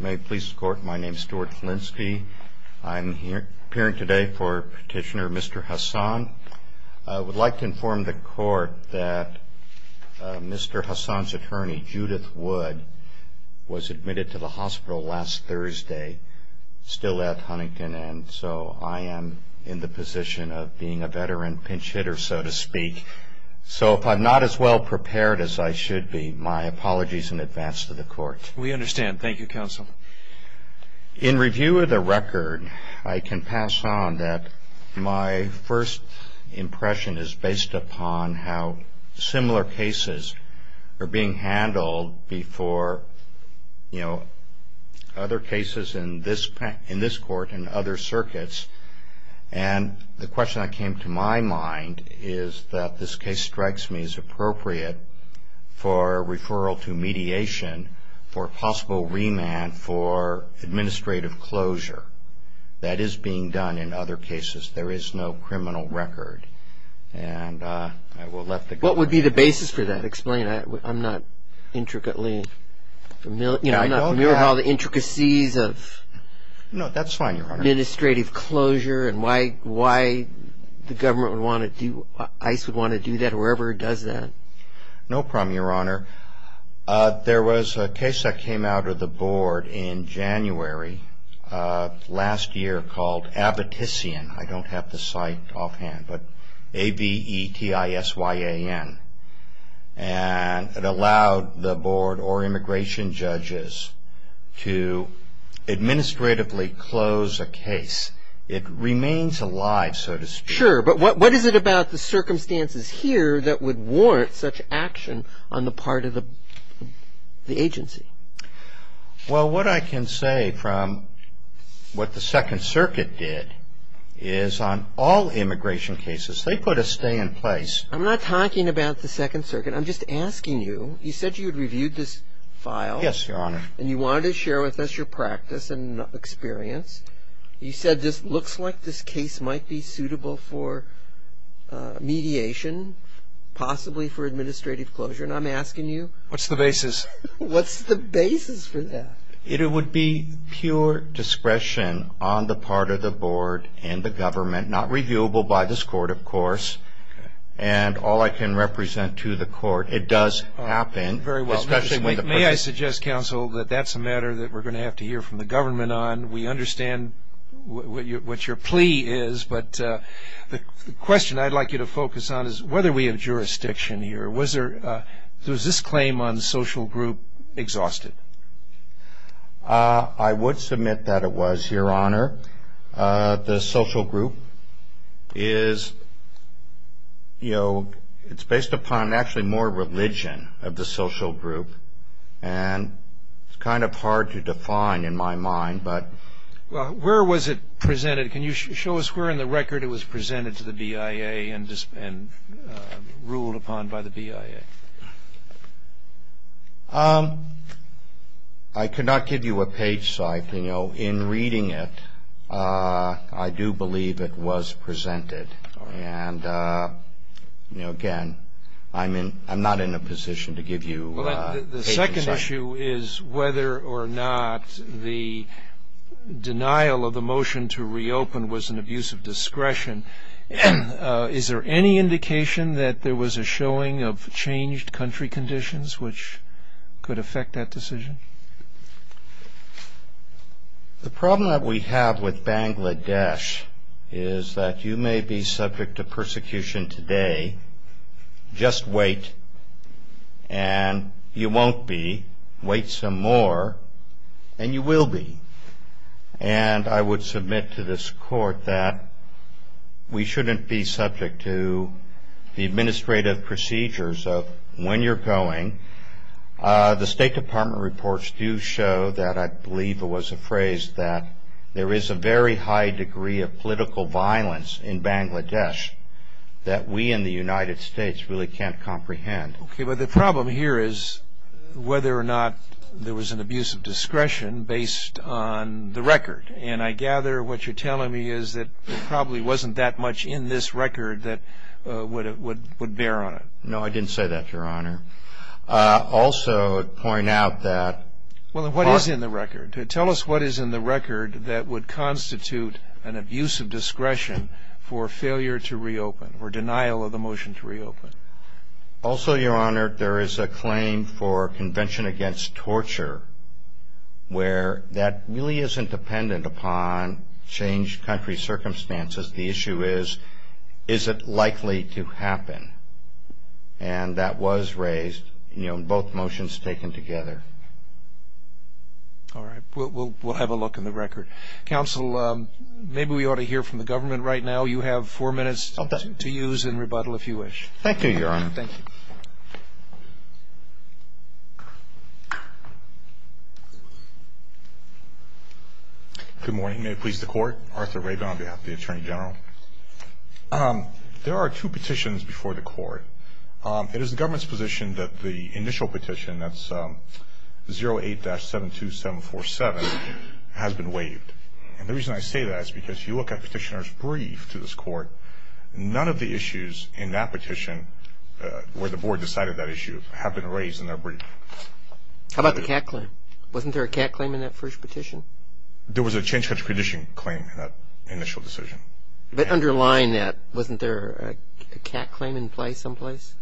May it please the Court, my name is Stuart Filinski. I'm here appearing today for Petitioner Mr. Hassan. I would like to inform the Court that Mr. Hassan's attorney, Judith Wood, was admitted to the hospital last Thursday, still at Huntington, and so I am in the position of being a veteran pinch hitter, so to speak. So if I'm not as well prepared as I should be, my apologies in advance to the Court. We understand. Thank you, Counsel. In review of the record, I can pass on that my first impression is based upon how similar cases are being handled before other cases in this Court and other circuits. And the question that came to my mind is that this case strikes me as appropriate for referral to mediation for possible remand for administrative closure that is being done in other cases. There is no criminal record, and I will let the Court decide. What would be the basis for that? Explain. I'm not intricately familiar with all the intricacies of administrative closure. And why the government would want to do, ICE would want to do that, or whoever does that. No problem, Your Honor. There was a case that came out of the Board in January of last year called Abitissian. I don't have the site offhand, but A-B-E-T-I-S-Y-A-N. And it allowed the Board or immigration judges to administratively close a case. It remains alive, so to speak. Sure, but what is it about the circumstances here that would warrant such action on the part of the agency? Well, what I can say from what the Second Circuit did is on all immigration cases, they put a stay in place. I'm not talking about the Second Circuit. I'm just asking you. You said you had reviewed this file. Yes, Your Honor. And you wanted to share with us your practice and experience. You said this looks like this case might be suitable for mediation, possibly for administrative closure. And I'm asking you. What's the basis? What's the basis for that? It would be pure discretion on the part of the Board and the government, not reviewable by this Court, of course. And all I can represent to the Court, it does happen. May I suggest, Counsel, that that's a matter that we're going to have to hear from the government on. We understand what your plea is, but the question I'd like you to focus on is whether we have jurisdiction here. Was this claim on the social group exhausted? I would submit that it was, Your Honor. The social group is based upon actually more religion of the social group, and it's kind of hard to define in my mind. Well, where was it presented? Can you show us where in the record it was presented to the BIA and ruled upon by the BIA? I cannot give you a page site. You know, in reading it, I do believe it was presented. And, you know, again, I'm not in a position to give you a page site. The second issue is whether or not the denial of the motion to reopen was an abuse of discretion. Is there any indication that there was a showing of changed country conditions which could affect that decision? The problem that we have with Bangladesh is that you may be subject to persecution today. Just wait, and you won't be. Wait some more, and you will be. And I would submit to this court that we shouldn't be subject to the administrative procedures of when you're going. The State Department reports do show that I believe it was a phrase that there is a very high degree of political violence in Bangladesh that we in the United States really can't comprehend. Okay, but the problem here is whether or not there was an abuse of discretion based on the record. And I gather what you're telling me is that there probably wasn't that much in this record that would bear on it. No, I didn't say that, Your Honor. Also, I would point out that – Well, what is in the record? Tell us what is in the record that would constitute an abuse of discretion for failure to reopen or denial of the motion to reopen. Also, Your Honor, there is a claim for convention against torture where that really isn't dependent upon changed country circumstances. The issue is, is it likely to happen? And that was raised in both motions taken together. All right. We'll have a look in the record. Counsel, maybe we ought to hear from the government right now. You have four minutes to use and rebuttal if you wish. Thank you, Your Honor. Thank you. Good morning. May it please the Court. Arthur Rabin on behalf of the Attorney General. There are two petitions before the Court. It is the government's position that the initial petition, that's 08-72747, has been waived. And the reason I say that is because if you look at Petitioner's brief to this Court, none of the issues in that petition where the Board decided that issue have been raised in that brief. How about the cat claim? Wasn't there a cat claim in that first petition? There was a changed country petition claim in that initial decision. But underlying that, wasn't there a cat claim in place someplace?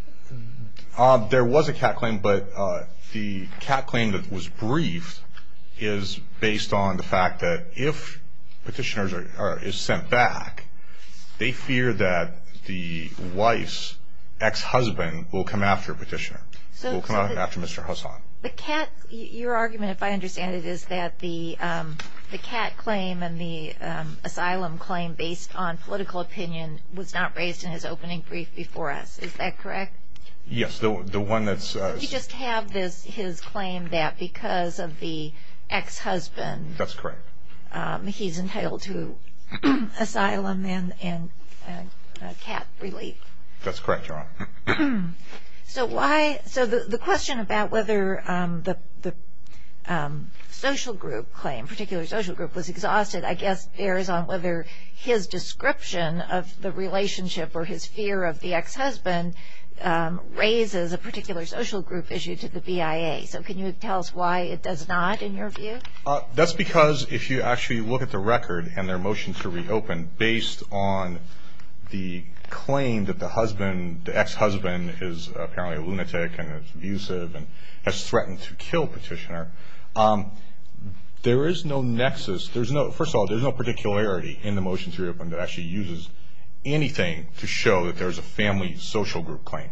There was a cat claim, but the cat claim that was briefed is based on the fact that if Petitioner is sent back, they fear that the wife's ex-husband will come after Petitioner, will come after Mr. Hassan. Your argument, if I understand it, is that the cat claim and the asylum claim based on political opinion was not raised in his opening brief before us. Is that correct? Yes. You just have his claim that because of the ex-husband, he's entitled to asylum and cat relief. That's correct, Your Honor. So the question about whether the social group claim, particular social group, was exhausted, I guess bears on whether his description of the relationship or his fear of the ex-husband raises a particular social group issue to the BIA. So can you tell us why it does not in your view? That's because if you actually look at the record and their motion to reopen, based on the claim that the ex-husband is apparently a lunatic and abusive and has threatened to kill Petitioner, there is no nexus. First of all, there's no particularity in the motion to reopen that actually uses anything to show that there's a family social group claim.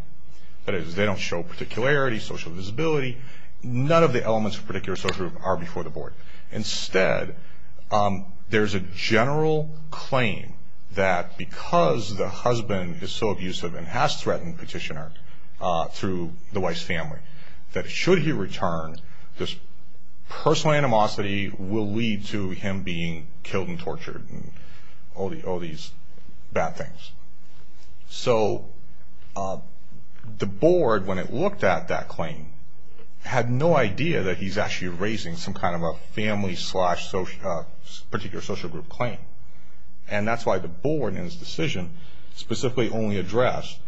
That is, they don't show particularity, social visibility. None of the elements of particular social group are before the board. Instead, there's a general claim that because the husband is so abusive and has threatened Petitioner through the wife's family, that should he return, this personal animosity will lead to him being killed and tortured and all these bad things. So the board, when it looked at that claim, had no idea that he's actually raising some kind of a family-slash-particular social group claim. And that's why the board, in its decision, specifically only addressed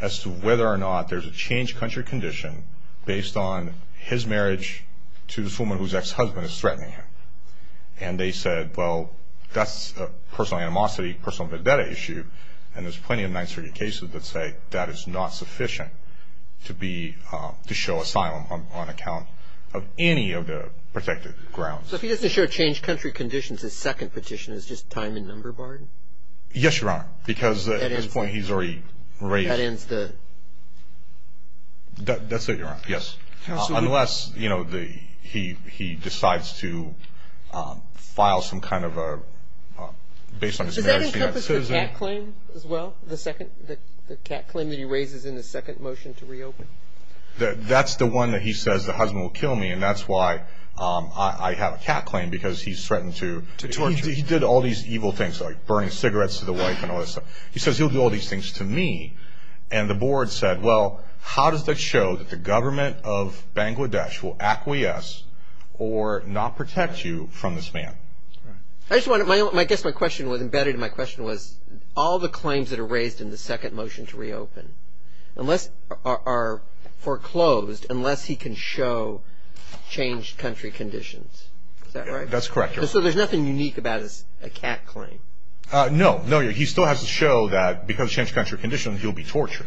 as to whether or not there's a changed country condition based on his marriage to this woman whose ex-husband is threatening him. And they said, well, that's a personal animosity, personal vendetta issue, and there's plenty of 930 cases that say that is not sufficient to show asylum on account of any of the protected grounds. So if he doesn't show changed country conditions, his second petition is just time and number barred? Yes, Your Honor, because at this point he's already raised. That ends the? That's it, Your Honor, yes. Unless he decides to file some kind of a, based on his marriage to that citizen. Does he have a cat claim as well? The cat claim that he raises in the second motion to reopen? That's the one that he says the husband will kill me, and that's why I have a cat claim, because he's threatened to. He did all these evil things, like burning cigarettes to the wife and all this stuff. He says he'll do all these things to me. And the board said, well, how does that show that the government of Bangladesh will acquiesce or not protect you from this man? I guess my question was embedded in my question was, all the claims that are raised in the second motion to reopen are foreclosed unless he can show changed country conditions. Is that right? That's correct, Your Honor. So there's nothing unique about a cat claim? No, he still has to show that because of changed country conditions he'll be tortured.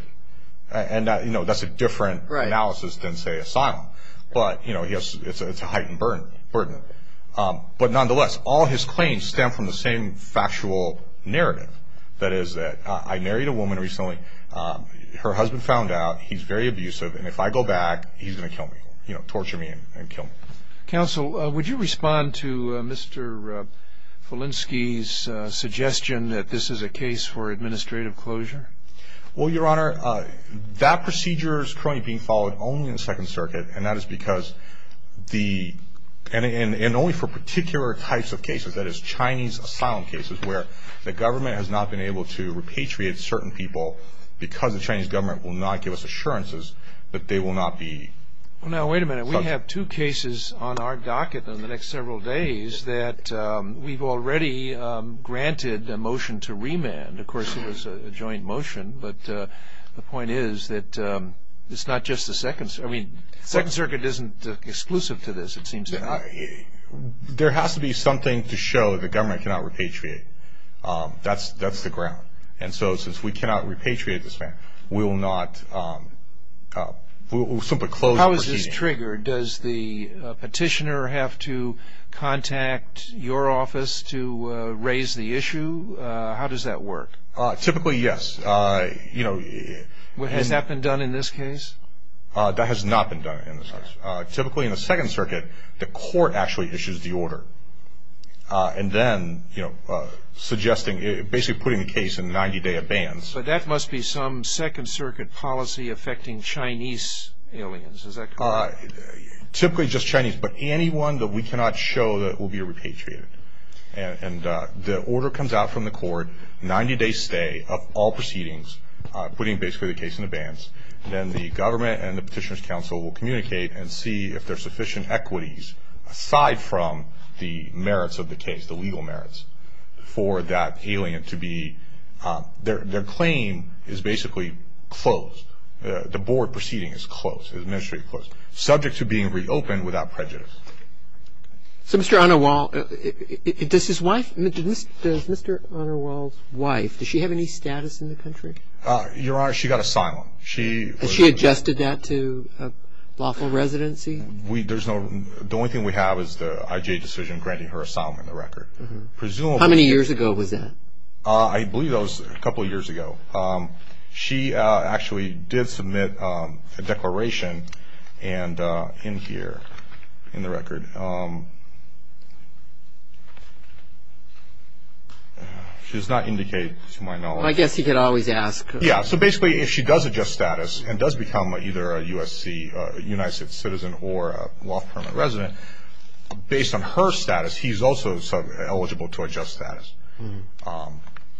And that's a different analysis than, say, asylum. But it's a heightened burden. But nonetheless, all his claims stem from the same factual narrative. That is that I married a woman recently. Her husband found out. He's very abusive. And if I go back, he's going to kill me, you know, torture me and kill me. Counsel, would you respond to Mr. Falinski's suggestion that this is a case for administrative closure? Well, Your Honor, that procedure is currently being followed only in the Second Circuit, and that is because the – and only for particular types of cases. That is, Chinese asylum cases where the government has not been able to repatriate certain people because the Chinese government will not give us assurances that they will not be – Well, now, wait a minute. We have two cases on our docket in the next several days that we've already granted a motion to remand. Of course, it was a joint motion. But the point is that it's not just the Second – I mean, Second Circuit isn't exclusive to this, it seems to me. There has to be something to show the government cannot repatriate. That's the ground. And so since we cannot repatriate this man, we will not – we'll simply close the proceedings. How is this triggered? Does the petitioner have to contact your office to raise the issue? How does that work? Typically, yes. You know – Has that been done in this case? That has not been done in this case. Typically, in the Second Circuit, the court actually issues the order. And then, you know, suggesting – basically putting the case in 90-day abeyance. But that must be some Second Circuit policy affecting Chinese aliens. Is that correct? Typically just Chinese, but anyone that we cannot show that will be repatriated. And the order comes out from the court, 90-day stay of all proceedings, putting basically the case in abeyance. Then the government and the Petitioner's Council will communicate and see if there are sufficient equities aside from the merits of the case, the legal merits, for that alien to be – their claim is basically closed. The board proceeding is closed, administrative closed, subject to being reopened without prejudice. So Mr. Anarwal, does his wife – does Mr. Anarwal's wife, does she have any status in the country? Your Honor, she got asylum. Has she adjusted that to a lawful residency? The only thing we have is the IJ decision granting her asylum in the record. How many years ago was that? I believe that was a couple of years ago. She actually did submit a declaration in here, in the record. She does not indicate, to my knowledge. Well, I guess he could always ask. Yeah, so basically if she does adjust status and does become either a USC – a United States citizen or a lawful permanent resident, based on her status, he's also eligible to adjust status.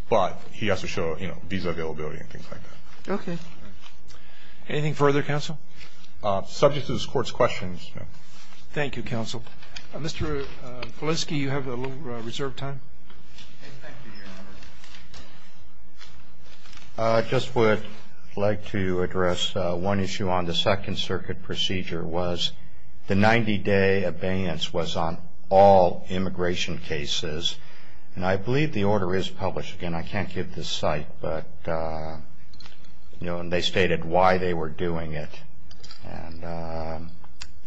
But he has to show, you know, visa availability and things like that. Okay. Anything further, Counsel? Subject to this Court's questions, no. Thank you, Counsel. Mr. Politsky, you have a little reserved time. I just would like to address one issue on the Second Circuit procedure, was the 90-day abeyance was on all immigration cases. And I believe the order is published. Again, I can't give the site, but, you know, and they stated why they were doing it. And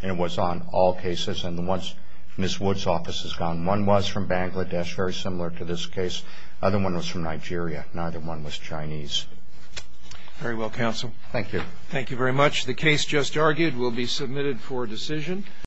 it was on all cases, and the ones Ms. Wood's office has gone. One was from Bangladesh, very similar to this case. The other one was from Nigeria. Neither one was Chinese. Very well, Counsel. Thank you. Thank you very much. The case just argued will be submitted for decision.